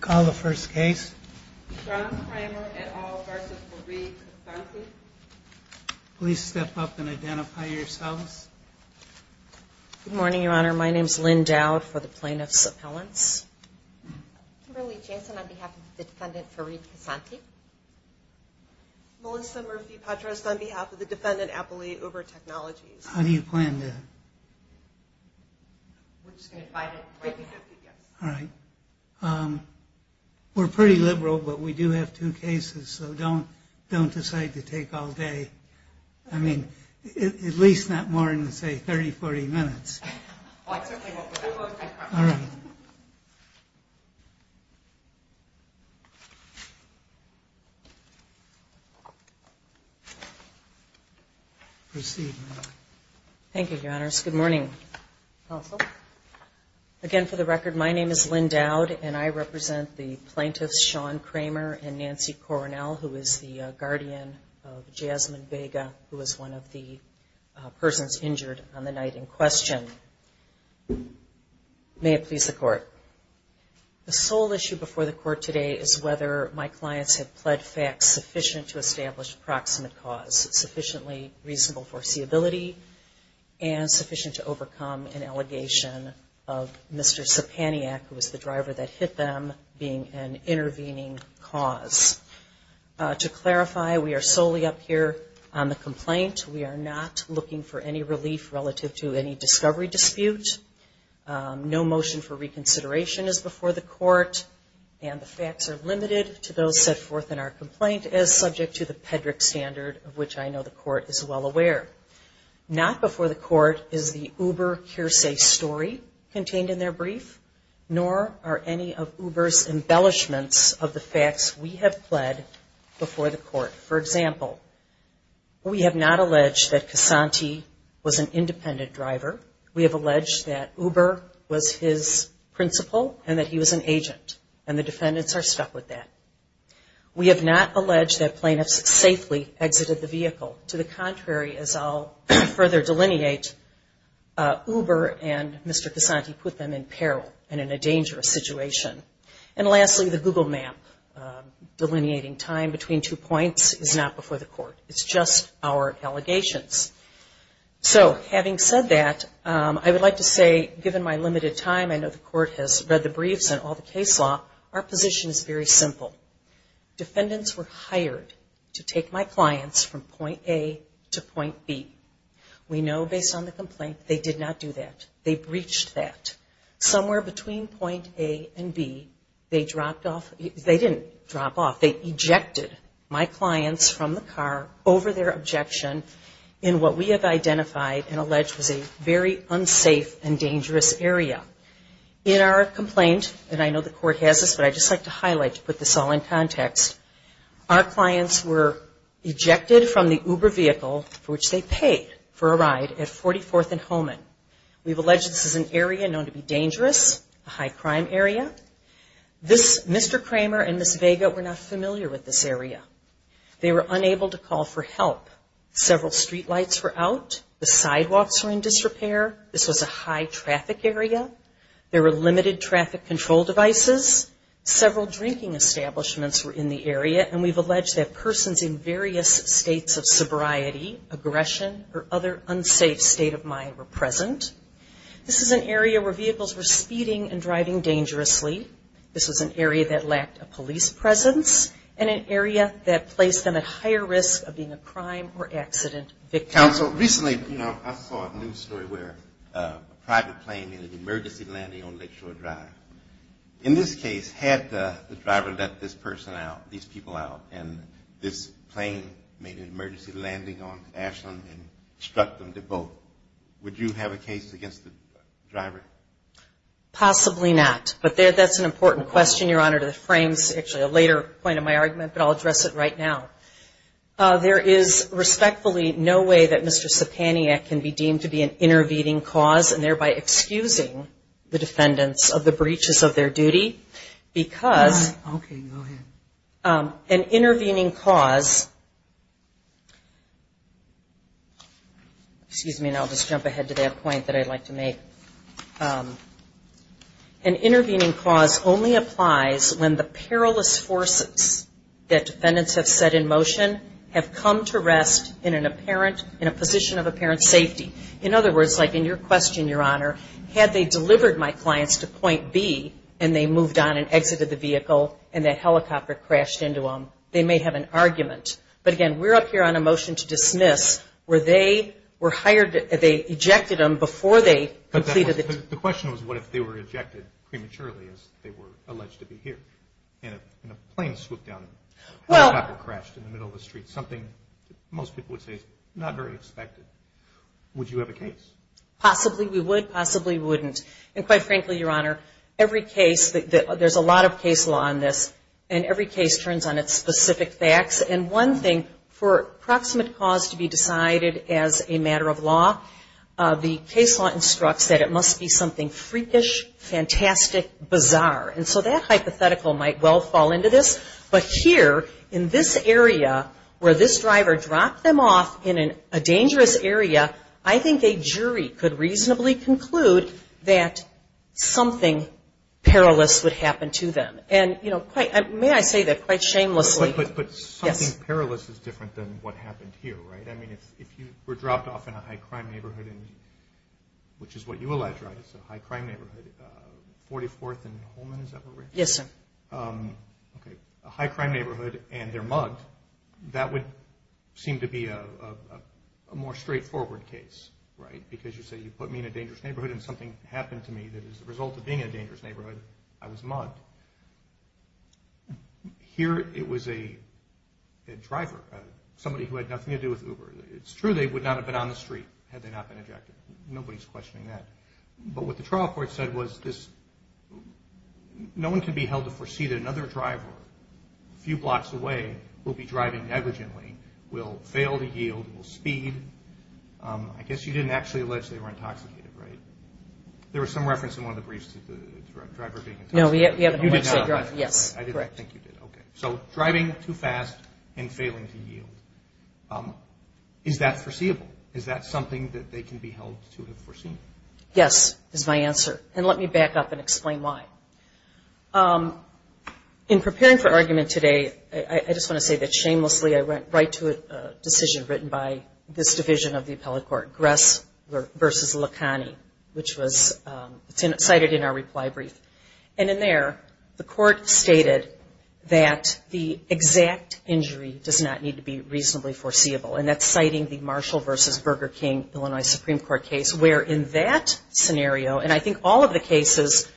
Call the first case. Please step up and identify yourselves. Good morning, Your Honor. My name is Lynn Dowd for the Plaintiff's Appellants. Kimberly Jansen on behalf of the Defendant Fareed Kessanti. Melissa Murphy-Patras on behalf of the Defendant Apolli Uber Technologies. How do you plan to... All right. We're pretty liberal, but we do have two cases, so don't decide to take all day. I mean, at least not more than, say, 30, 40 minutes. Proceed. Thank you, Your Honors. Good morning. Again, for the record, my name is Lynn Dowd, and I represent the plaintiffs Shawn Kramer and Nancy Coronel, who is the guardian of Jasmine Vega, who was one of the persons injured on the night in question. May it please the Court. The sole issue before the Court today is whether my clients have pled facts sufficient to establish proximate cause, sufficiently reasonable foreseeability, and sufficient to overcome an allegation of Mr. Sepaniak, who was the driver that hit them, being an intervening cause. To clarify, we are solely up here on the complaint. We are not looking for any relief relative to any discovery dispute. No motion for reconsideration is before the Court, and the facts are limited to those set forth in our complaint, as subject to the Pedrick Standard, of which I know the Court is well aware. Not before the Court is the Uber hearsay story contained in their brief, nor are any of Uber's embellishments of the facts we have pled before the Court. For example, we have not alleged that Casanti was an independent driver. We have alleged that Uber was his principal and that he was an agent, and the defendants are stuck with that. We have not alleged that plaintiffs safely exited the vehicle. To the contrary, as I'll further delineate, Uber and Mr. Casanti put them in peril and in a dangerous situation. And lastly, the Google map delineating time between two points is not before the Court. It's just our allegations. So, having said that, I would like to say, given my limited time, I know the Court has read the briefs and all the case law, our position is very simple. Defendants were hired to take my clients from point A to point B. We know, based on the complaint, they did not do that. They breached that. Somewhere between point A and B, they dropped off – they didn't drop off. They ejected my clients from the car over their objection in what we have identified and alleged was a very unsafe and dangerous area. In our complaint, and I know the Court has this, but I'd just like to highlight to put this all in context, our clients were ejected from the Uber vehicle, for which they paid for a ride, at 44th and Holman. We've alleged this is an area known to be dangerous, a high-crime area. Mr. Kramer and Ms. Vega were not familiar with this area. They were unable to call for help. Several streetlights were out. The sidewalks were in disrepair. This was a high-traffic area. There were limited traffic control devices. Several drinking establishments were in the area, and we've alleged that persons in various states of sobriety, aggression, or other unsafe state of mind were present. This is an area where vehicles were speeding and driving dangerously. This was an area that lacked a police presence and an area that placed them at higher risk of being a crime or accident victim. Counsel, recently, you know, I saw a news story where a private plane made an emergency landing on Lakeshore Drive. In this case, had the driver let this person out, these people out, and this plane made an emergency landing on Ashland and struck them to both, would you have a case against the driver? Possibly not. But that's an important question, Your Honor, that frames actually a later point of my argument, but I'll address it right now. There is respectfully no way that Mr. Sepaniak can be deemed to be an intervening cause and thereby excusing the defendants of the breaches of their duty because an intervening cause, excuse me, and I'll just jump ahead to that point that I'd like to make. An intervening cause only applies when the perilous forces that defendants have set in motion have come to rest in a position of apparent safety. In other words, like in your question, Your Honor, had they delivered my clients to Point B and they moved on and exited the vehicle and the helicopter crashed into them, they may have an argument. But, again, we're up here on a motion to dismiss where they were hired, they ejected them before they completed the... The question was what if they were ejected prematurely as they were alleged to be here and a plane swooped down and a helicopter crashed in the middle of the street, something most people would say is not very expected. Would you have a case? Possibly we would, possibly we wouldn't. And quite frankly, Your Honor, every case, there's a lot of case law on this, and every case turns on its specific facts. And one thing, for proximate cause to be decided as a matter of law, the case law instructs that it must be something freakish, fantastic, bizarre. And so that hypothetical might well fall into this, but here in this area where this driver dropped them off in a dangerous area, I think a jury could reasonably conclude that something perilous would happen to them. And, you know, may I say that quite shamelessly? But something perilous is different than what happened here, right? I mean, if you were dropped off in a high-crime neighborhood, which is what you alleged, right, it's a high-crime neighborhood, 44th and Holman, is that where we're at? Yes, sir. Okay. A high-crime neighborhood and they're mugged, that would seem to be a more straightforward case, right? Because you say you put me in a dangerous neighborhood and something happened to me that is the result of being in a dangerous neighborhood, I was mugged. Here it was a driver, somebody who had nothing to do with Uber. It's true they would not have been on the street had they not been ejected. Nobody's questioning that. But what the trial court said was this, no one can be held to foresee that another driver a few blocks away will be driving negligently, will fail to yield, will speed. I guess you didn't actually allege they were intoxicated, right? There was some reference in one of the briefs to the driver being intoxicated. No, we haven't alleged they drove. Yes. I didn't think you did. Okay. So driving too fast and failing to yield. Is that foreseeable? Is that something that they can be held to have foreseen? Yes, is my answer. And let me back up and explain why. In preparing for argument today, I just want to say that shamelessly I went right to a decision written by this division of the appellate court, Gress v. Licani, which was cited in our reply brief. And in there, the court stated that the exact injury does not need to be reasonably foreseeable, and that's citing the Marshall v. Burger King, Illinois Supreme Court case, where in that scenario, and I think all of the cases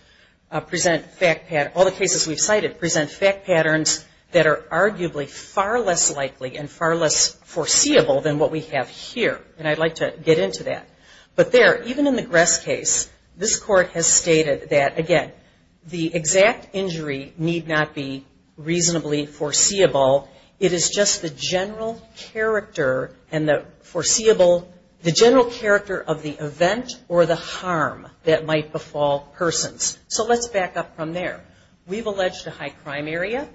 present fact patterns, all the cases we've cited present fact patterns that are arguably far less likely and far less foreseeable than what we have here. And I'd like to get into that. But there, even in the Gress case, this court has stated that, again, the exact injury need not be reasonably foreseeable. It is just the general character and the foreseeable, the general character of the event or the harm that might befall persons. So let's back up from there. We've alleged a high crime area.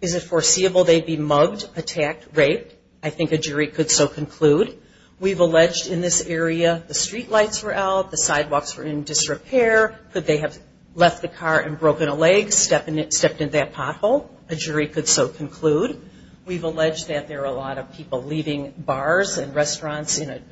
Is it foreseeable they'd be mugged, attacked, raped? I think a jury could so conclude. We've alleged in this area the streetlights were out, the sidewalks were in disrepair. Could they have left the car and broken a leg, stepped in that pothole? A jury could so conclude. We've alleged that there are a lot of people leaving bars and restaurants in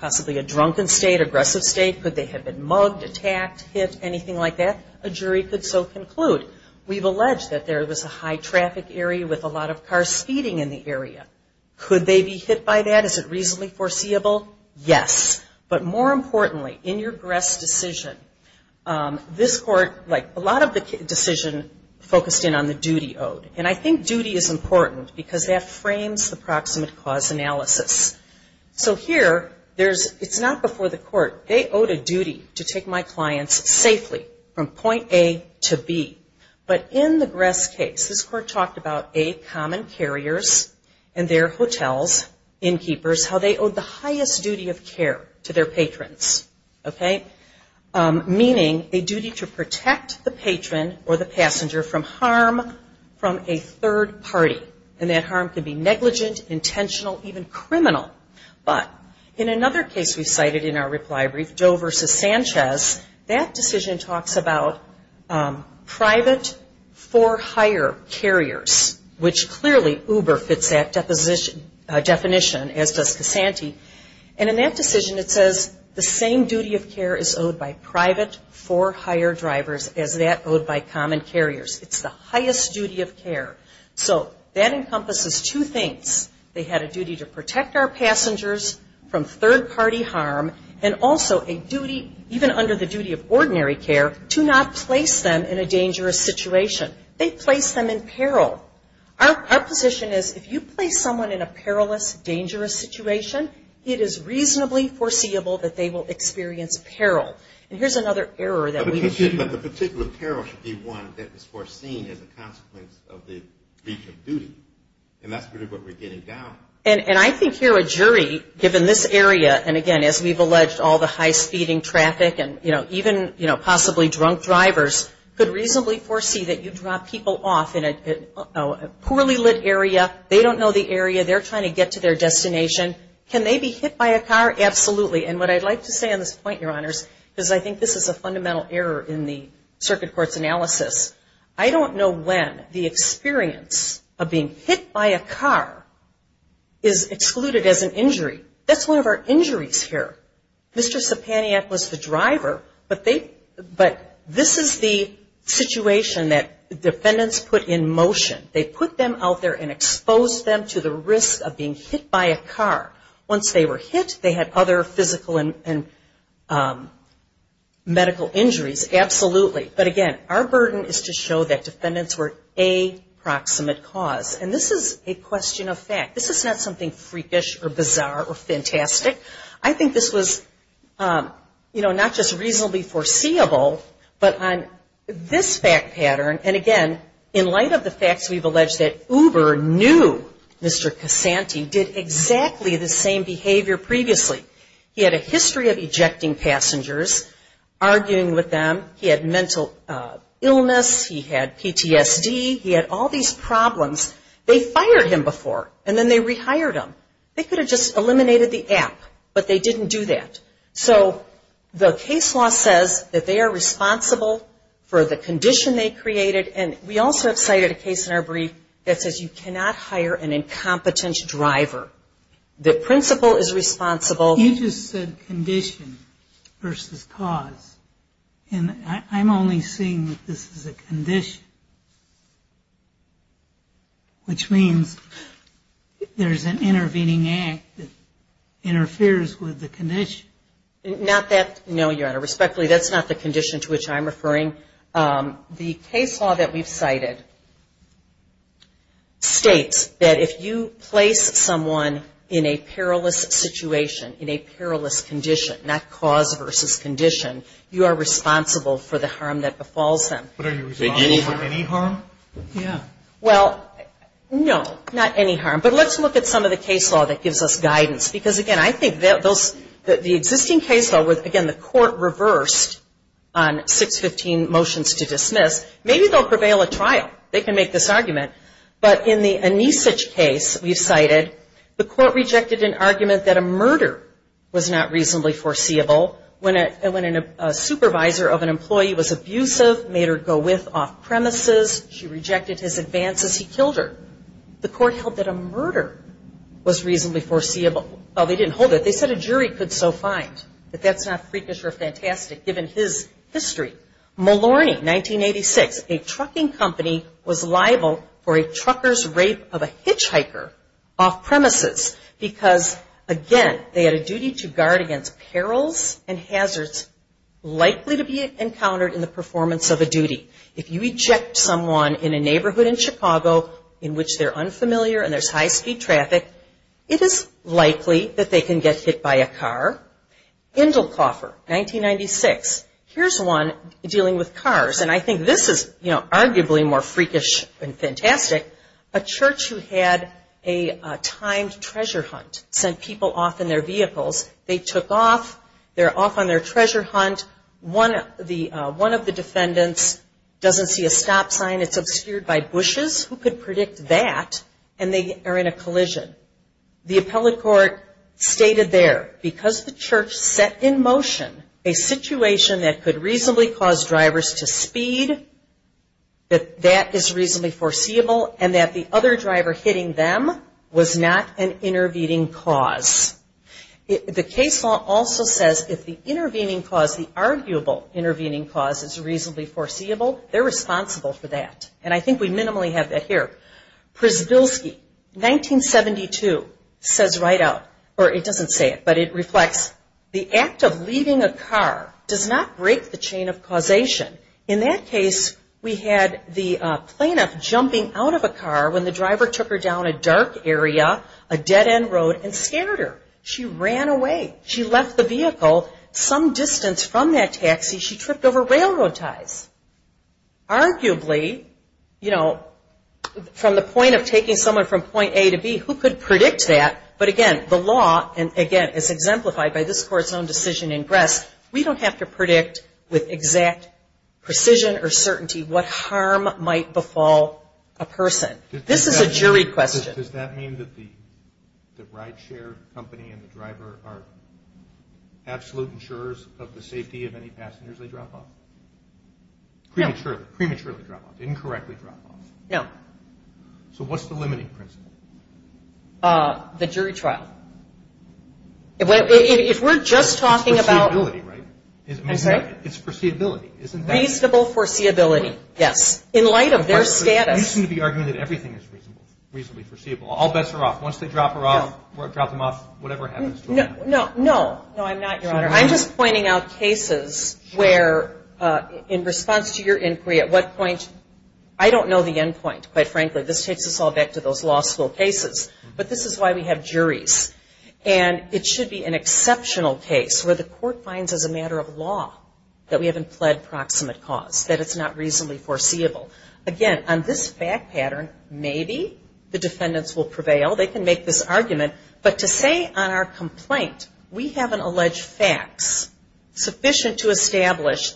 possibly a drunken state, aggressive state. Could they have been mugged, attacked, hit, anything like that? A jury could so conclude. We've alleged that there was a high traffic area with a lot of cars speeding in the area. Could they be hit by that? Is it reasonably foreseeable? Yes. But more importantly, in your Gress decision, this court, like a lot of the decision, focused in on the duty owed. And I think duty is important because that frames the proximate cause analysis. So here, it's not before the court. They owed a duty to take my clients safely from point A to B. But in the Gress case, this court talked about, A, common carriers and their hotels, innkeepers, how they owed the highest duty of care to their patrons. Okay? Meaning a duty to protect the patron or the passenger from harm from a third party. And that harm could be negligent, intentional, even criminal. But in another case we cited in our reply brief, Joe versus Sanchez, that decision talks about private for hire carriers, which clearly Uber fits that definition, as does Casanti. And in that decision, it says the same duty of care is owed by private for hire drivers as that owed by common carriers. It's the highest duty of care. So that encompasses two things. They had a duty to protect our passengers from third party harm, and also a duty, even under the duty of ordinary care, to not place them in a dangerous situation. They placed them in peril. Our position is if you place someone in a perilous, dangerous situation, it is reasonably foreseeable that they will experience peril. And here's another error that we've seen. But the particular peril should be one that is foreseen as a consequence of the breach of duty. And that's really what we're getting down. And I think here a jury, given this area, and again, as we've alleged, all the high-speeding traffic and even possibly drunk drivers, could reasonably foresee that you drop people off in a poorly lit area. They don't know the area. They're trying to get to their destination. Can they be hit by a car? Absolutely. And what I'd like to say on this point, Your Honors, because I think this is a fundamental error in the circuit court's analysis, I don't know when the experience of being hit by a car is excluded as an injury. That's one of our injuries here. Mr. Sepaniak was the driver, but this is the situation that defendants put in motion. They put them out there and exposed them to the risk of being hit by a car. Once they were hit, they had other physical and medical injuries, absolutely. But again, our burden is to show that defendants were a proximate cause. And this is a question of fact. This is not something freakish or bizarre or fantastic. I think this was not just reasonably foreseeable, but on this fact pattern, and again, in light of the facts, we've alleged that Uber knew Mr. Casanti did exactly the same behavior previously. He had a history of ejecting passengers, arguing with them. He had mental illness. He had PTSD. He had all these problems. They fired him before, and then they rehired him. They could have just eliminated the app, but they didn't do that. So the case law says that they are responsible for the condition they created, and we also have cited a case in our brief that says you cannot hire an incompetent driver. The principal is responsible. You just said condition versus cause, and I'm only seeing that this is a condition, which means there's an intervening act that interferes with the condition. Not that, no, Your Honor. Respectfully, that's not the condition to which I'm referring. The case law that we've cited states that if you place someone in a perilous situation, in a perilous condition, not cause versus condition, you are responsible for the harm that befalls them. But are you responsible for any harm? Well, no, not any harm. But let's look at some of the case law that gives us guidance, because, again, I think that the existing case law, again, the court reversed on 615 motions to dismiss. Maybe they'll prevail a trial. They can make this argument. But in the Anisic case we've cited, the court rejected an argument that a murder was not reasonably foreseeable. When a supervisor of an employee was abusive, made her go with off-premises, she rejected his advances, he killed her. The court held that a murder was reasonably foreseeable. Well, they didn't hold it. They said a jury could so find that that's not freakish or fantastic given his history. Malorny, 1986, a trucking company was liable for a trucker's rape of a hitchhiker off-premises because, again, they had a duty to guard against perils and hazards likely to be encountered in the performance of a duty. If you reject someone in a neighborhood in Chicago in which they're unfamiliar and there's high-speed traffic, it is likely that they can get hit by a car. Indelkoffer, 1996, here's one dealing with cars. And I think this is, you know, arguably more freakish and fantastic. A church who had a timed treasure hunt sent people off in their vehicles. They took off. They're off on their treasure hunt. One of the defendants doesn't see a stop sign. It's obscured by bushes. Who could predict that? And they are in a collision. The appellate court stated there, because the church set in motion a situation that could reasonably cause drivers to speed, that that is reasonably foreseeable, and that the other driver hitting them was not an intervening cause. The case law also says if the intervening cause, the arguable intervening cause, is reasonably foreseeable, they're responsible for that. And I think we minimally have that here. Przybylski, 1972, says right out, or it doesn't say it, but it reflects, the act of leaving a car does not break the chain of causation. In that case, we had the plaintiff jumping out of a car when the driver took her down a dark area, a dead-end road, and scared her. She ran away. She left the vehicle some distance from that taxi. She tripped over railroad ties. Arguably, you know, from the point of taking someone from point A to B, who could predict that? But again, the law, and again, as exemplified by this court's own decision in Grest, we don't have to predict with exact precision or certainty what harm might befall a person. This is a jury question. Does that mean that the rideshare company and the driver are absolute insurers of the safety of any passengers they drop off? Prematurely, prematurely drop off. Incorrectly drop off. No. So what's the limiting principle? The jury trial. If we're just talking about – It's foreseeability, right? I'm sorry? It's foreseeability, isn't that – Reasonable foreseeability, yes. In light of their status – All bets are off. Once they drop her off, drop them off, whatever happens. No. No, I'm not, Your Honor. I'm just pointing out cases where, in response to your inquiry, at what point – I don't know the end point, quite frankly. This takes us all back to those law school cases. But this is why we have juries. And it should be an exceptional case where the court finds, as a matter of law, that we haven't pled proximate cause, that it's not reasonably foreseeable. Again, on this fact pattern, maybe the defendants will prevail. They can make this argument. But to say on our complaint, we have an alleged fax sufficient to establish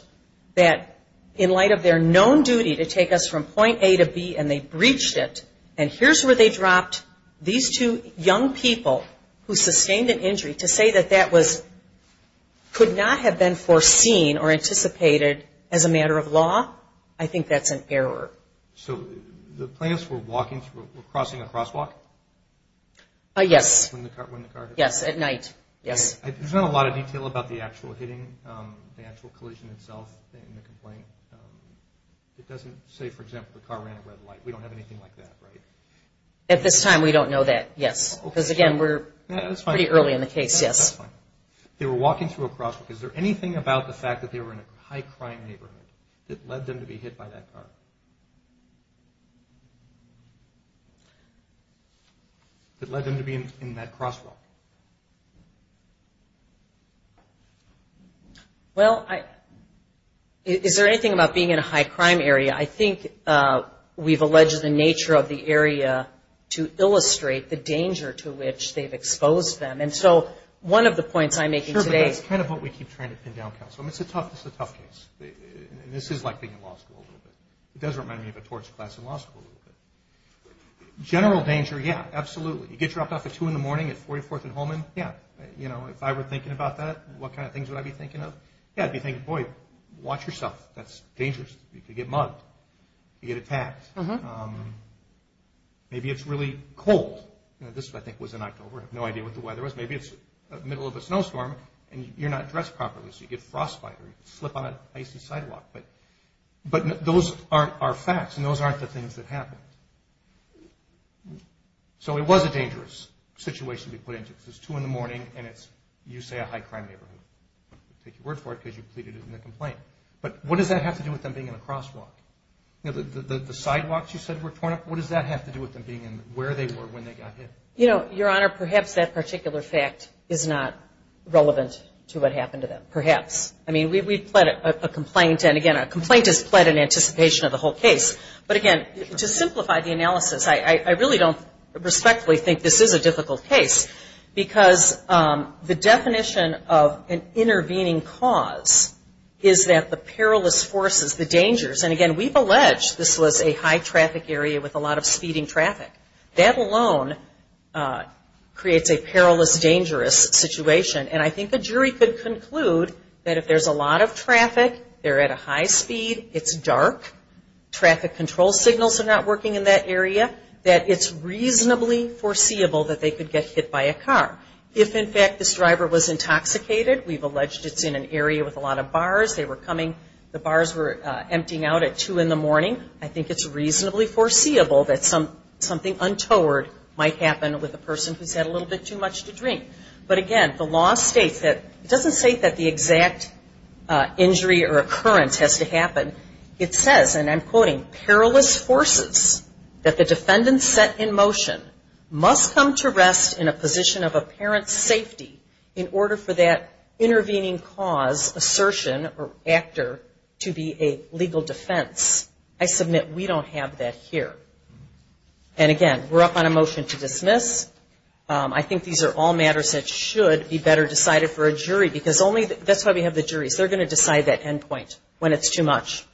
that, in light of their known duty to take us from point A to B and they breached it, and here's where they dropped these two young people who sustained an injury, to say that that could not have been foreseen or anticipated as a matter of law, I think that's an error. So the plaintiffs were crossing a crosswalk? Yes. When the car hit? Yes, at night. Yes. There's not a lot of detail about the actual collision itself in the complaint. It doesn't say, for example, the car ran a red light. We don't have anything like that, right? At this time, we don't know that, yes. Because, again, we're pretty early in the case, yes. That's fine. They were walking through a crosswalk. Is there anything about the fact that they were in a high-crime neighborhood that led them to be hit by that car? That led them to be in that crosswalk? Well, is there anything about being in a high-crime area? I think we've alleged the nature of the area to illustrate the danger to which they've exposed them. And so one of the points I'm making today… Sure, but that's kind of what we keep trying to pin down counsel. I mean, it's a tough case. And this is like being in law school a little bit. It does remind me of a torts class in law school a little bit. General danger, yeah, absolutely. You get dropped off at 2 in the morning at 44th and Holman, yeah. If I were thinking about that, what kind of things would I be thinking of? Yeah, I'd be thinking, boy, watch yourself. That's dangerous. You could get mugged. You could get attacked. Maybe it's really cold. This, I think, was in October. I have no idea what the weather was. Maybe it's the middle of a snowstorm, and you're not dressed properly, so you get frostbite, or you slip on an icy sidewalk. But those are facts, and those aren't the things that happened. So it was a dangerous situation to be put into. It's 2 in the morning, and it's, you say, a high-crime neighborhood. Take your word for it, because you pleaded it in the complaint. But what does that have to do with them being in a crosswalk? The sidewalks you said were torn up, what does that have to do with them being in where they were when they got hit? Your Honor, perhaps that particular fact is not relevant to what happened to them. Perhaps. I mean, we pled a complaint, and, again, a complaint is pled in anticipation of the whole case. But, again, to simplify the analysis, I really don't respectfully think this is a difficult case, because the definition of an intervening cause is that the perilous forces, the dangers, and, again, we've alleged this was a high-traffic area with a lot of speeding traffic. That alone creates a perilous, dangerous situation, and I think a jury could conclude that if there's a lot of traffic, they're at a high speed, it's dark, traffic control signals are not working in that area, that it's reasonably foreseeable that they could get hit by a car. If, in fact, this driver was intoxicated, we've alleged it's in an area with a lot of bars, they were coming, the bars were emptying out at 2 in the morning, I think it's reasonably foreseeable that something untoward might happen with a person who's had a little bit too much to drink. But, again, the law states that it doesn't say that the exact injury or occurrence has to happen. It says, and I'm quoting, perilous forces that the defendant set in motion must come to rest in a position of apparent safety in order for that intervening cause, assertion, or actor to be a legal defense. I submit we don't have that here. And, again, we're up on a motion to dismiss. I think these are all matters that should be better decided for a jury, because that's why we have the juries. They're going to decide that end point when it's too much.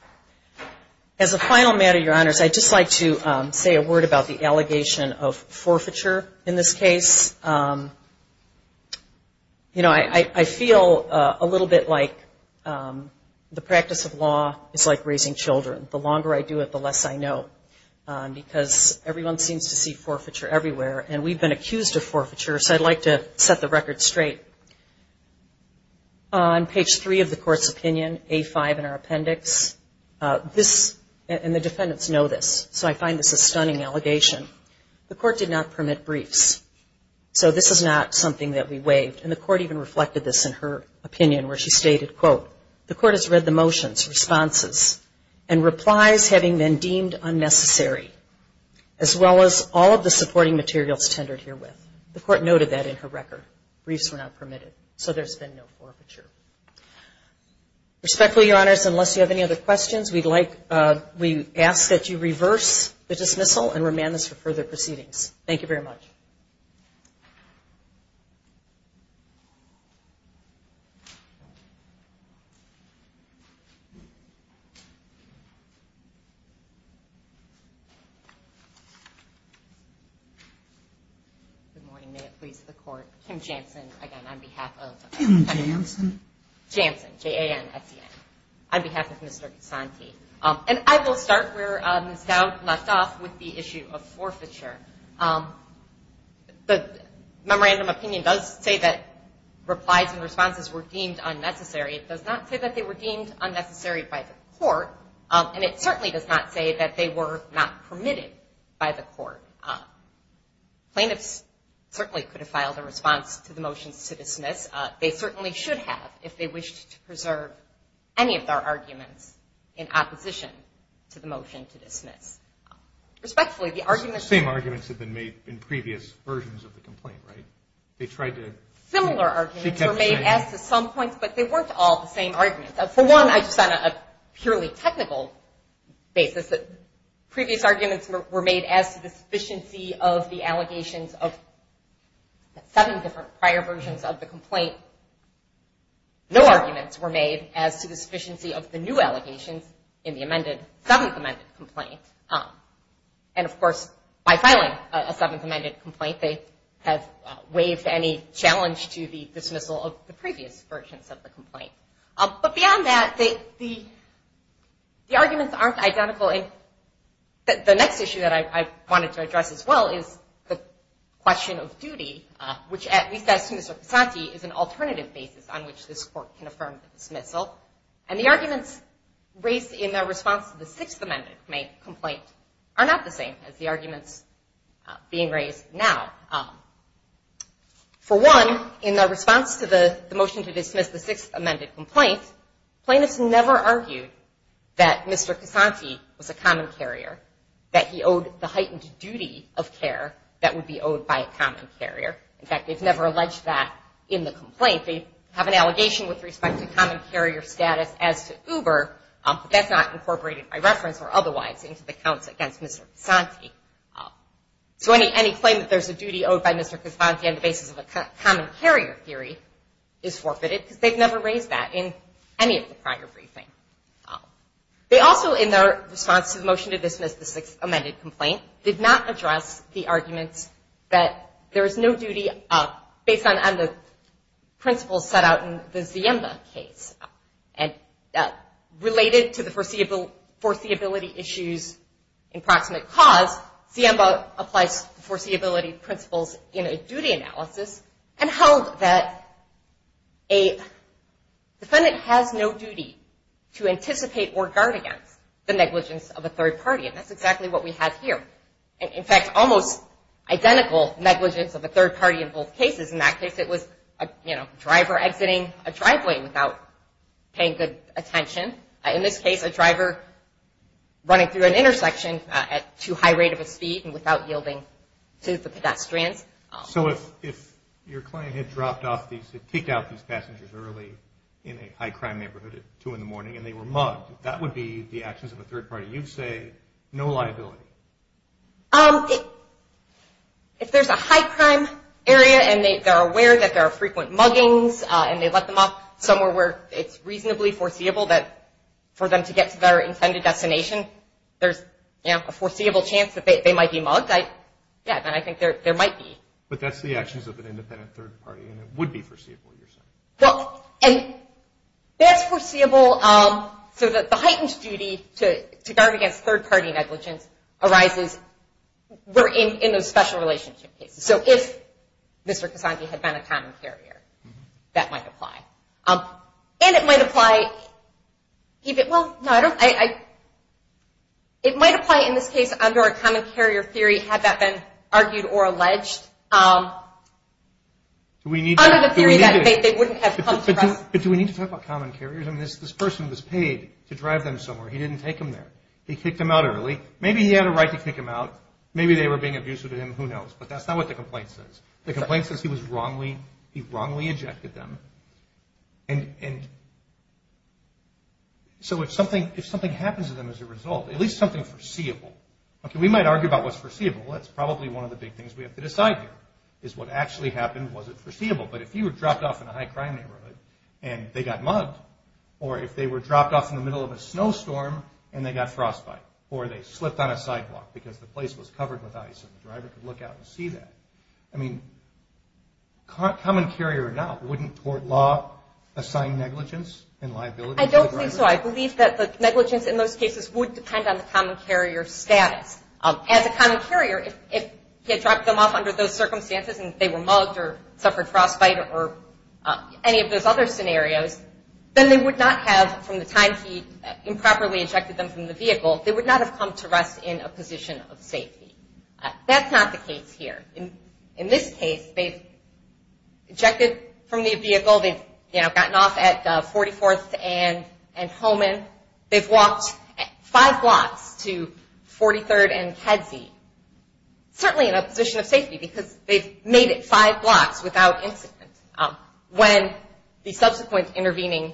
As a final matter, Your Honors, I'd just like to say a word about the allegation of forfeiture in this case. You know, I feel a little bit like the practice of law is like raising children. The longer I do it, the less I know, because everyone seems to see forfeiture everywhere. And we've been accused of forfeiture, so I'd like to set the record straight. On page 3 of the Court's opinion, A5 in our appendix, this and the defendants know this, so I find this a stunning allegation. The Court did not permit briefs, so this is not something that we waived. And the Court even reflected this in her opinion, where she stated, quote, the Court has read the motions, responses, and replies, having been deemed unnecessary, as well as all of the supporting materials tendered herewith. The Court noted that in her record. Briefs were not permitted, so there's been no forfeiture. Respectfully, Your Honors, unless you have any other questions, we'd like to ask that you reverse the dismissal and remand this for further proceedings. Thank you very much. Good morning, may it please the Court. Kim Jansen, again, on behalf of. Kim Jansen. Jansen, J-A-N-S-E-N. On behalf of Mr. Cassanti. And I will start where Ms. Dowd left off with the issue of forfeiture. The memorandum opinion does say that replies and responses were deemed unnecessary. It does not say that they were deemed unnecessary by the Court, and it certainly does not say that they were not permitted by the Court. Plaintiffs certainly could have filed a response to the motions to dismiss. They certainly should have if they wished to preserve any of their arguments in opposition to the motion to dismiss. Respectfully, the arguments. The same arguments have been made in previous versions of the complaint, right? They tried to. Similar arguments were made as to some points, but they weren't all the same arguments. For one, I just said on a purely technical basis that previous arguments were made as to the sufficiency of the allegations of the seven different prior versions of the complaint. No arguments were made as to the sufficiency of the new allegations in the amended, seventh amended complaint. And, of course, by filing a seventh amended complaint, they have waived any challenge to the dismissal of the previous versions of the complaint. But beyond that, the arguments aren't identical. The next issue that I wanted to address as well is the question of duty, which at least as to Mr. Casanti is an alternative basis on which this Court can affirm the dismissal. And the arguments raised in their response to the sixth amended complaint are not the same as the arguments being raised now. For one, in their response to the motion to dismiss the sixth amended complaint, plaintiffs never argued that Mr. Casanti was a common carrier, that he owed the heightened duty of care that would be owed by a common carrier. In fact, they've never alleged that in the complaint. They have an allegation with respect to common carrier status as to Uber, but that's not incorporated by reference or otherwise into the counts against Mr. Casanti. So any claim that there's a duty owed by Mr. Casanti on the basis of a common carrier theory is forfeited because they've never raised that in any of the prior briefing. They also, in their response to the motion to dismiss the sixth amended complaint, did not address the arguments that there is no duty based on the principles set out in the Ziemba case. And related to the foreseeability issues in proximate cause, Ziemba applies foreseeability principles in a duty analysis and held that a defendant has no duty to anticipate or guard against the negligence of a third party. And that's exactly what we have here. In fact, almost identical negligence of a third party in both cases. In that case, it was a driver exiting a driveway without paying good attention. In this case, a driver running through an intersection at too high rate of a speed and without yielding to the pedestrians. So if your client had kicked out these passengers early in a high crime neighborhood at 2 in the morning and they were mugged, that would be the actions of a third party. You say no liability. If there's a high crime area and they're aware that there are frequent muggings and they let them off somewhere where it's reasonably foreseeable that for them to get to their intended destination, there's a foreseeable chance that they might be mugged, then I think there might be. But that's the actions of an independent third party and it would be foreseeable, you're saying. Well, and that's foreseeable so that the heightened duty to guard against third party negligence arises in those special relationship cases. So if Mr. Casanti had been a common carrier, that might apply. And it might apply even, well, no, I don't, it might apply in this case under a common carrier theory had that been argued or alleged under the theory that they wouldn't have come to us. But do we need to talk about common carriers? I mean, this person was paid to drive them somewhere. He didn't take them there. He kicked them out early. Maybe he had a right to kick them out. Maybe they were being abusive to him. Who knows? But that's not what the complaint says. The complaint says he was wrongly, he wrongly ejected them. And so if something happens to them as a result, at least something foreseeable, okay, we might argue about what's foreseeable. That's probably one of the big things we have to decide here is what actually happened. Was it foreseeable? But if you were dropped off in a high crime neighborhood and they got mugged or if they were dropped off in the middle of a snowstorm and they got frostbite or they slipped on a sidewalk because the place was covered with ice and the driver could look out and see that, I mean common carrier now wouldn't court law assign negligence and liability to the driver? I don't think so. I believe that the negligence in those cases would depend on the common carrier status. As a common carrier, if he had dropped them off under those circumstances and they were mugged or suffered frostbite or any of those other scenarios, then they would not have, from the time he improperly ejected them from the vehicle, they would not have come to rest in a position of safety. That's not the case here. In this case, they've ejected from the vehicle. They've gotten off at 44th and Holman. They've walked five blocks to 43rd and Kedzie, certainly in a position of safety because they've made it five blocks without incident. When the subsequent intervening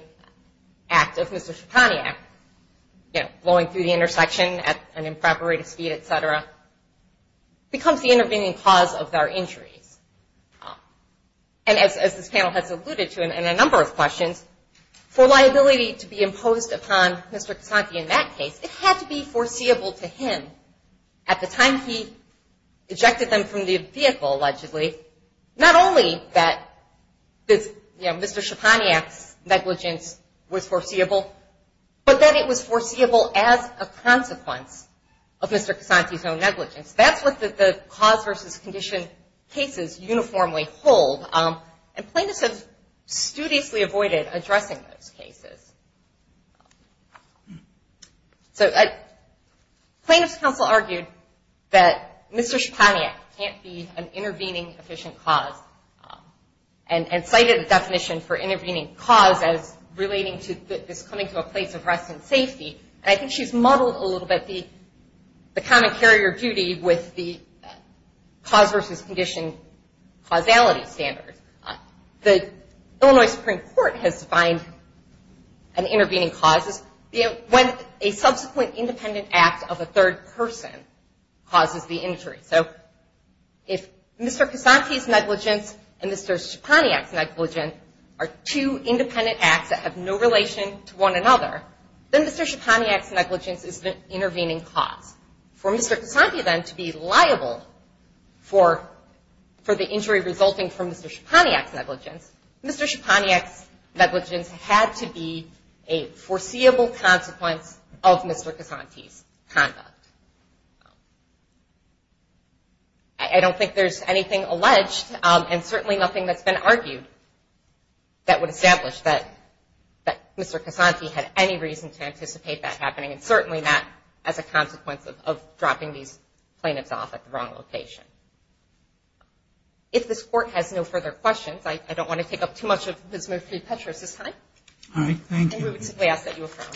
act of Mr. Chetaniac, blowing through the intersection at an improper rate of speed, et cetera, becomes the intervening cause of their injuries. And as this panel has alluded to in a number of questions, for liability to be imposed upon Mr. Chetaniac in that case, it had to be foreseeable to him at the time he ejected them from the vehicle, allegedly, not only that Mr. Chetaniac's negligence was foreseeable, but that it was foreseeable as a consequence of Mr. Cassanti's own negligence. That's what the cause versus condition cases uniformly hold, and plaintiffs have studiously avoided addressing those cases. So plaintiff's counsel argued that Mr. Chetaniac can't be an intervening efficient cause and cited a definition for intervening cause as relating to this coming to a place of rest and safety. And I think she's muddled a little bit the common carrier duty with the cause versus condition causality standards. The Illinois Supreme Court has defined an intervening cause as when a subsequent independent act of a third person causes the injury. So if Mr. Cassanti's negligence and Mr. Chetaniac's negligence are two independent acts that have no relation to one another, then Mr. Chetaniac's negligence is the intervening cause. For Mr. Cassanti, then, to be liable for the injury resulting from Mr. Chetaniac's negligence, Mr. Chetaniac's negligence had to be a foreseeable consequence of Mr. Cassanti's conduct. I don't think there's anything alleged and certainly nothing that's been argued that would establish that Mr. Cassanti had any reason to anticipate that happening, and certainly not as a consequence of dropping these plaintiffs off at the wrong location. If this Court has no further questions, I don't want to take up too much of Ms. Murphy-Petras' time. All right. Thank you. And we would simply ask that you affirm.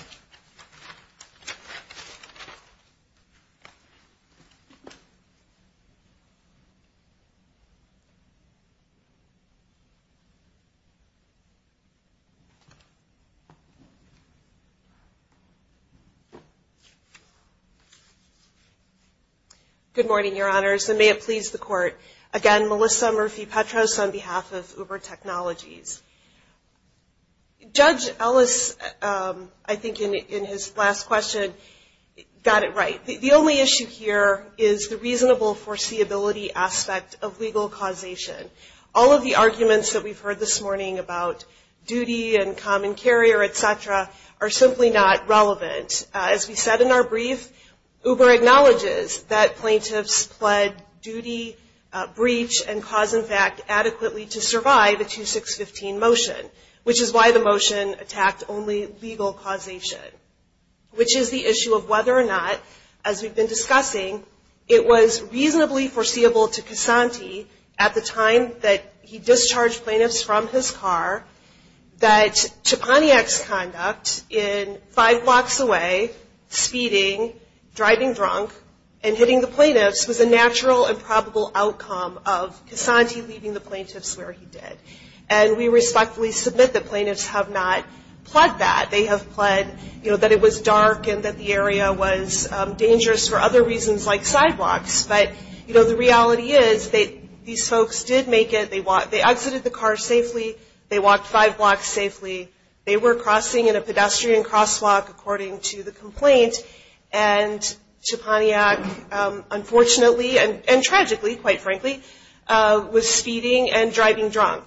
Good morning, Your Honors, and may it please the Court. Again, Melissa Murphy-Petras on behalf of Uber Technologies. Judge Ellis, I think in his last question, got it right. The only issue here is the reasonable foreseeability aspect of legal causation. All of the arguments that we've heard this morning about duty and common carrier, et cetera, are simply not relevant. As we said in our brief, Uber acknowledges that plaintiffs pled duty, breach, and cause, in fact, adequately to survive a 2615 motion, which is why the motion attacked only legal causation, which is the issue of whether or not, as we've been discussing, it was reasonably foreseeable to Cassanti at the time that he discharged plaintiffs from his car that Cheponniak's conduct in five blocks away, speeding, driving drunk, and hitting the plaintiffs was a natural and probable outcome of Cassanti leaving the plaintiffs where he did. And we respectfully submit that plaintiffs have not pled that. They have pled, you know, that it was dark and that the area was dangerous for other reasons like sidewalks. But, you know, the reality is these folks did make it. They exited the car safely. They walked five blocks safely. They were crossing in a pedestrian crosswalk, according to the complaint. And Cheponniak, unfortunately and tragically, quite frankly, was speeding and driving drunk.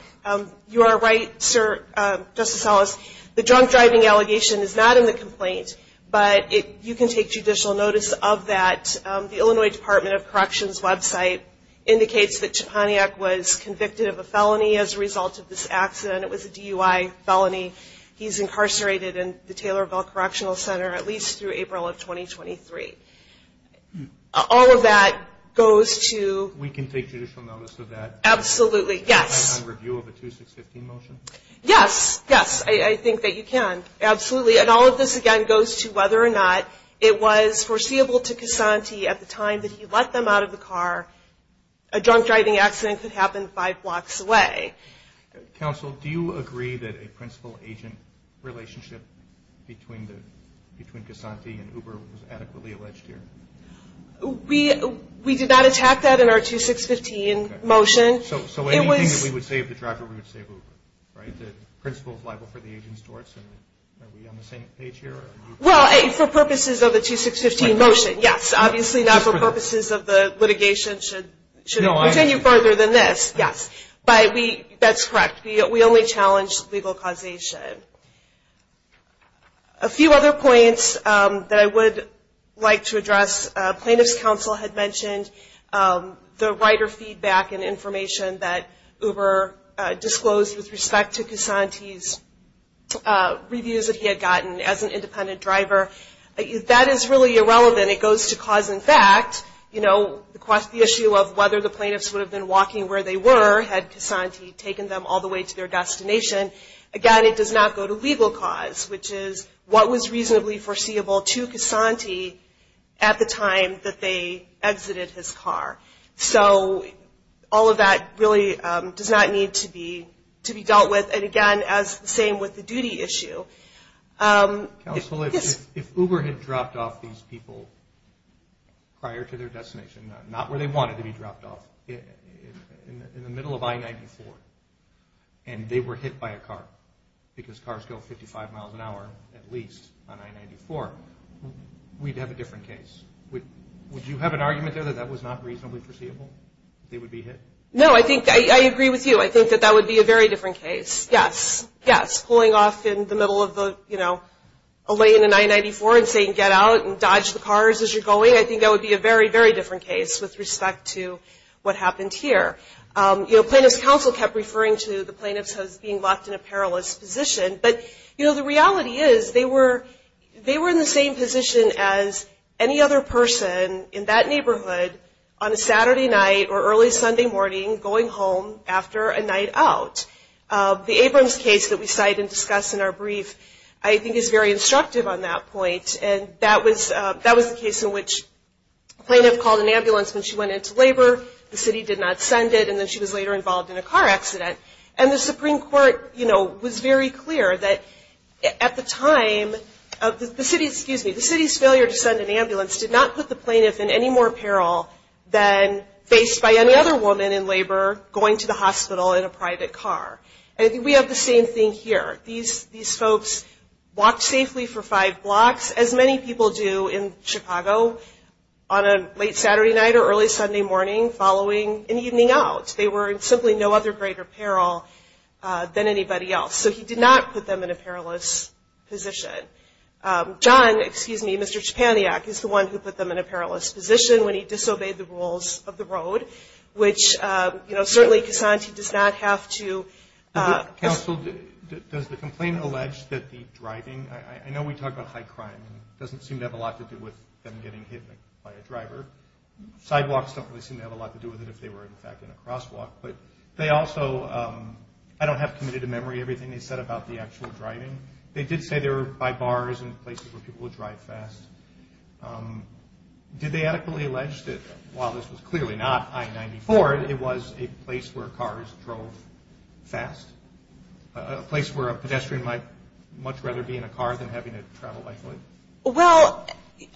You are right, Justice Ellis, the drunk driving allegation is not in the complaint, but you can take judicial notice of that. The Illinois Department of Corrections website indicates that Cheponniak was convicted of a felony as a result of this accident. It was a DUI felony. He's incarcerated in the Taylorville Correctional Center at least through April of 2023. All of that goes to- We can take judicial notice of that- Absolutely, yes. On review of a 2615 motion? Yes, yes, I think that you can, absolutely. And all of this, again, goes to whether or not it was foreseeable to Casanti at the time that he let them out of the car, a drunk driving accident could happen five blocks away. Counsel, do you agree that a principal-agent relationship between Casanti and Uber was adequately alleged here? We did not attack that in our 2615 motion. So anything that we would say of the driver, we would say Uber, right? The principal is liable for the agent's torts, and are we on the same page here? Well, for purposes of the 2615 motion, yes. Obviously not for purposes of the litigation should continue further than this, yes. But that's correct. We only challenged legal causation. A few other points that I would like to address. Plaintiff's counsel had mentioned the writer feedback and information that Uber disclosed with respect to Casanti's reviews that he had gotten as an independent driver. That is really irrelevant. It goes to cause and effect. You know, the issue of whether the plaintiffs would have been walking where they were had Casanti taken them all the way to their destination. Again, it does not go to legal cause, which is what was reasonably foreseeable to Casanti at the time that they exited his car. So all of that really does not need to be dealt with. And, again, the same with the duty issue. Counsel, if Uber had dropped off these people prior to their destination, not where they wanted to be dropped off, in the middle of I-94, and they were hit by a car because cars go 55 miles an hour at least on I-94, we'd have a different case. Would you have an argument there that that was not reasonably foreseeable? They would be hit? No, I agree with you. I think that that would be a very different case. Yes. Yes. Pulling off in the middle of a lane in I-94 and saying get out and dodge the cars as you're going, I think that would be a very, very different case with respect to what happened here. Plaintiff's counsel kept referring to the plaintiffs as being locked in a perilous position. But, you know, the reality is they were in the same position as any other person in that neighborhood on a Saturday night or early Sunday morning going home after a night out. The Abrams case that we cite and discuss in our brief I think is very instructive on that point, and that was the case in which a plaintiff called an ambulance when she went into labor, the city did not send it, and then she was later involved in a car accident. And the Supreme Court, you know, was very clear that at the time of the city's failure to send an ambulance did not put the plaintiff in any more peril than faced by any other woman in labor going to the hospital in a private car. And we have the same thing here. These folks walked safely for five blocks, as many people do in Chicago, on a late Saturday night or early Sunday morning following an evening out. They were in simply no other greater peril than anybody else. So he did not put them in a perilous position. John, excuse me, Mr. Chapaniak, is the one who put them in a perilous position when he disobeyed the rules of the road, which, you know, certainly Cassanti does not have to. Counsel, does the complaint allege that the driving, I know we talk about high crime, and it doesn't seem to have a lot to do with them getting hit by a driver. Sidewalks don't really seem to have a lot to do with it if they were, in fact, in a crosswalk. But they also, I don't have committed to memory everything they said about the actual driving. They did say they were by bars and places where people would drive fast. Did they adequately allege that while this was clearly not I-94, it was a place where cars drove fast, a place where a pedestrian might much rather be in a car than having to travel by foot? Well,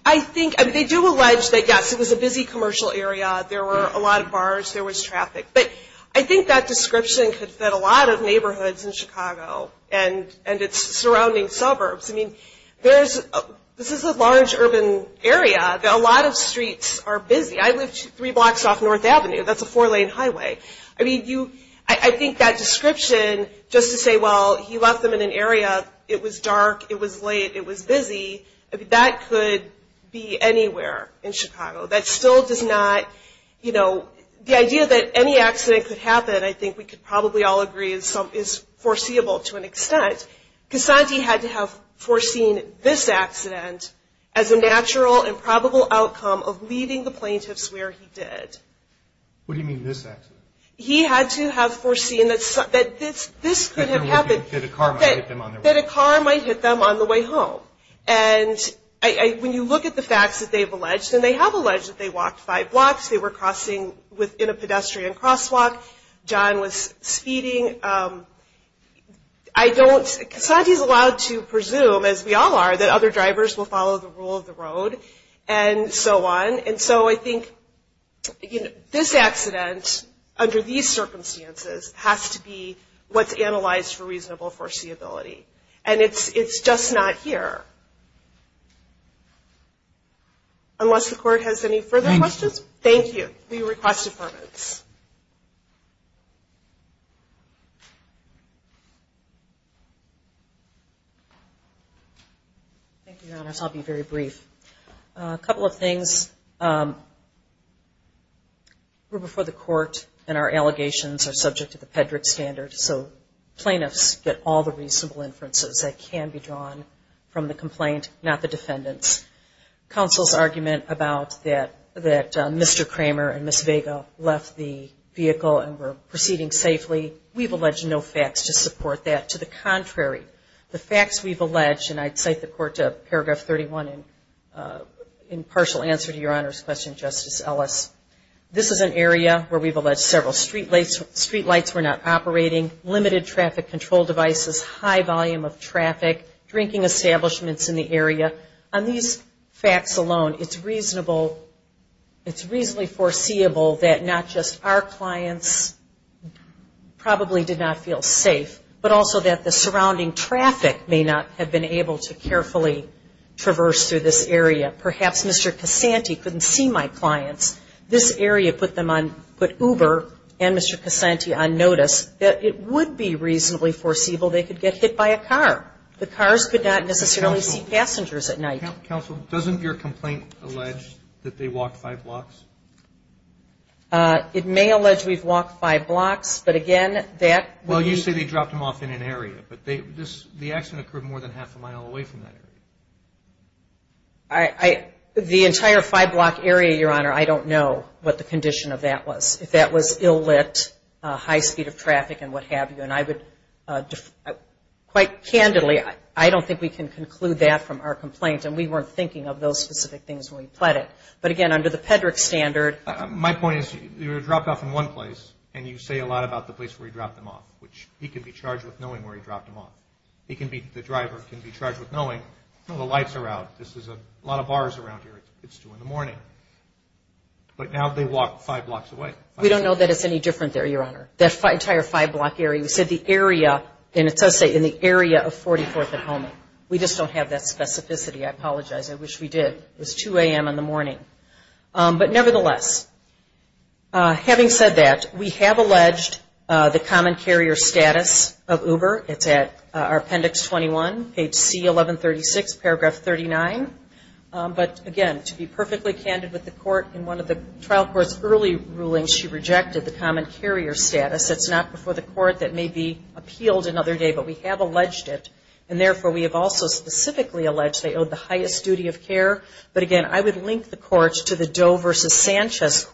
I think they do allege that, yes, it was a busy commercial area. There were a lot of bars. There was traffic. But I think that description could fit a lot of neighborhoods in Chicago and its surrounding suburbs. I mean, this is a large urban area. A lot of streets are busy. I live three blocks off North Avenue. That's a four-lane highway. I mean, I think that description, just to say, well, he left them in an area. It was dark. It was late. It was busy. That could be anywhere in Chicago. That still does not, you know, the idea that any accident could happen, I think we could probably all agree, is foreseeable to an extent. Casanti had to have foreseen this accident as a natural and probable outcome of leaving the plaintiffs where he did. What do you mean, this accident? He had to have foreseen that this could have happened. That a car might hit them on their way home. And when you look at the facts that they've alleged, and they have alleged that they walked five blocks, they were crossing within a pedestrian crosswalk, John was speeding. I don't – Casanti is allowed to presume, as we all are, that other drivers will follow the rule of the road and so on. And so I think, you know, this accident, under these circumstances, has to be what's analyzed for reasonable foreseeability. And it's just not here. Unless the court has any further questions. Thank you. We request deferments. Thank you, Your Honors. I'll be very brief. A couple of things. We're before the court, and our allegations are subject to the Peddrick standard. So plaintiffs get all the reasonable inferences that can be drawn from the complaint, not the defendants. Counsel's argument about that Mr. Kramer and Ms. Vega left the vehicle and were proceeding safely, we've alleged no facts to support that. To the contrary, the facts we've alleged, and I'd cite the court to Paragraph 31 in partial answer to Your Honor's question, Justice Ellis. This is an area where we've alleged several streetlights were not operating, limited traffic control devices, high volume of traffic, drinking establishments in the area. On these facts alone, it's reasonable, it's reasonably foreseeable that not just our clients probably did not feel safe, but also that the surrounding traffic may not have been able to carefully traverse through this area. Perhaps Mr. Casanti couldn't see my clients. This area put Uber and Mr. Casanti on notice that it would be reasonably foreseeable they could get hit by a car. The cars could not necessarily see passengers at night. Counsel, doesn't your complaint allege that they walked five blocks? It may allege we've walked five blocks, but again, that would be. Well, you say they dropped them off in an area, but the accident occurred more than half a mile away from that area. The entire five-block area, Your Honor, I don't know what the condition of that was, if that was ill-lit, high speed of traffic, and what have you. And I would quite candidly, I don't think we can conclude that from our complaint, and we weren't thinking of those specific things when we pled it. But again, under the Pedrick standard. My point is they were dropped off in one place, and you say a lot about the place where he dropped them off, which he could be charged with knowing where he dropped them off. He can be, the driver can be charged with knowing, oh, the lights are out. This is a lot of bars around here. It's 2 in the morning. But now they walked five blocks away. We don't know that it's any different there, Your Honor. That entire five-block area, you said the area, and it does say in the area of 44th and Holman. We just don't have that specificity. I apologize. I wish we did. It was 2 a.m. in the morning. But nevertheless, having said that, we have alleged the common carrier status of Uber. It's at Appendix 21, page C1136, paragraph 39. But again, to be perfectly candid with the court, in one of the trial court's early rulings, she rejected the common carrier status. It's not before the court that may be appealed another day, but we have alleged it. And therefore, we have also specifically alleged they owed the highest duty of care. But again, I would link the courts to the Doe v. Sanchez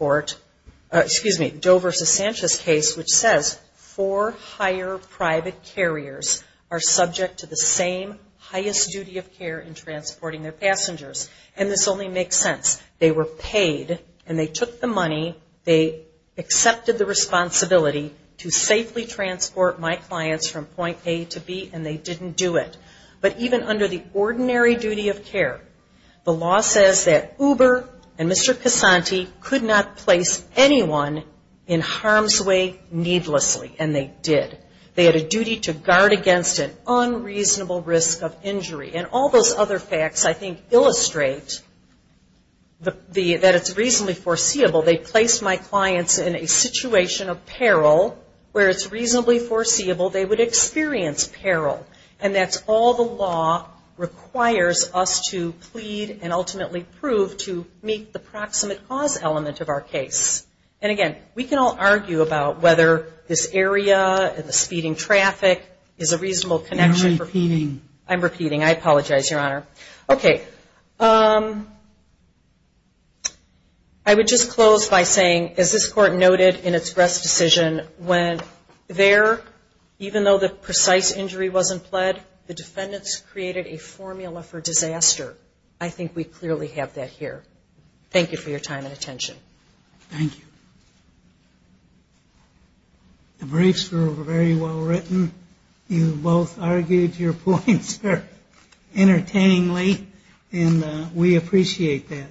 case, which says, four higher private carriers are subject to the same highest duty of care in transporting their passengers. And this only makes sense. They were paid, and they took the money, they accepted the responsibility to safely transport my clients from point A to B, and they didn't do it. But even under the ordinary duty of care, the law says that Uber and Mr. Casanti could not place anyone in harm's way needlessly, and they did. They had a duty to guard against an unreasonable risk of injury. And all those other facts, I think, illustrate that it's reasonably foreseeable. They placed my clients in a situation of peril where it's reasonably foreseeable they would experience peril. And that's all the law requires us to plead and ultimately prove to meet the proximate cause element of our case. And again, we can all argue about whether this area and the speeding traffic is a reasonable connection. You're repeating. I'm repeating. I apologize, Your Honor. Okay. I would just close by saying, as this court noted in its rest decision, there, even though the precise injury wasn't pled, the defendants created a formula for disaster. I think we clearly have that here. Thank you for your time and attention. Thank you. The briefs were very well written. You both argued your points entertainingly, and we appreciate that.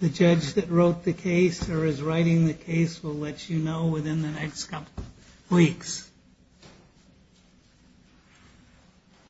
The judge that wrote the case or is writing the case will let you know within the next couple weeks.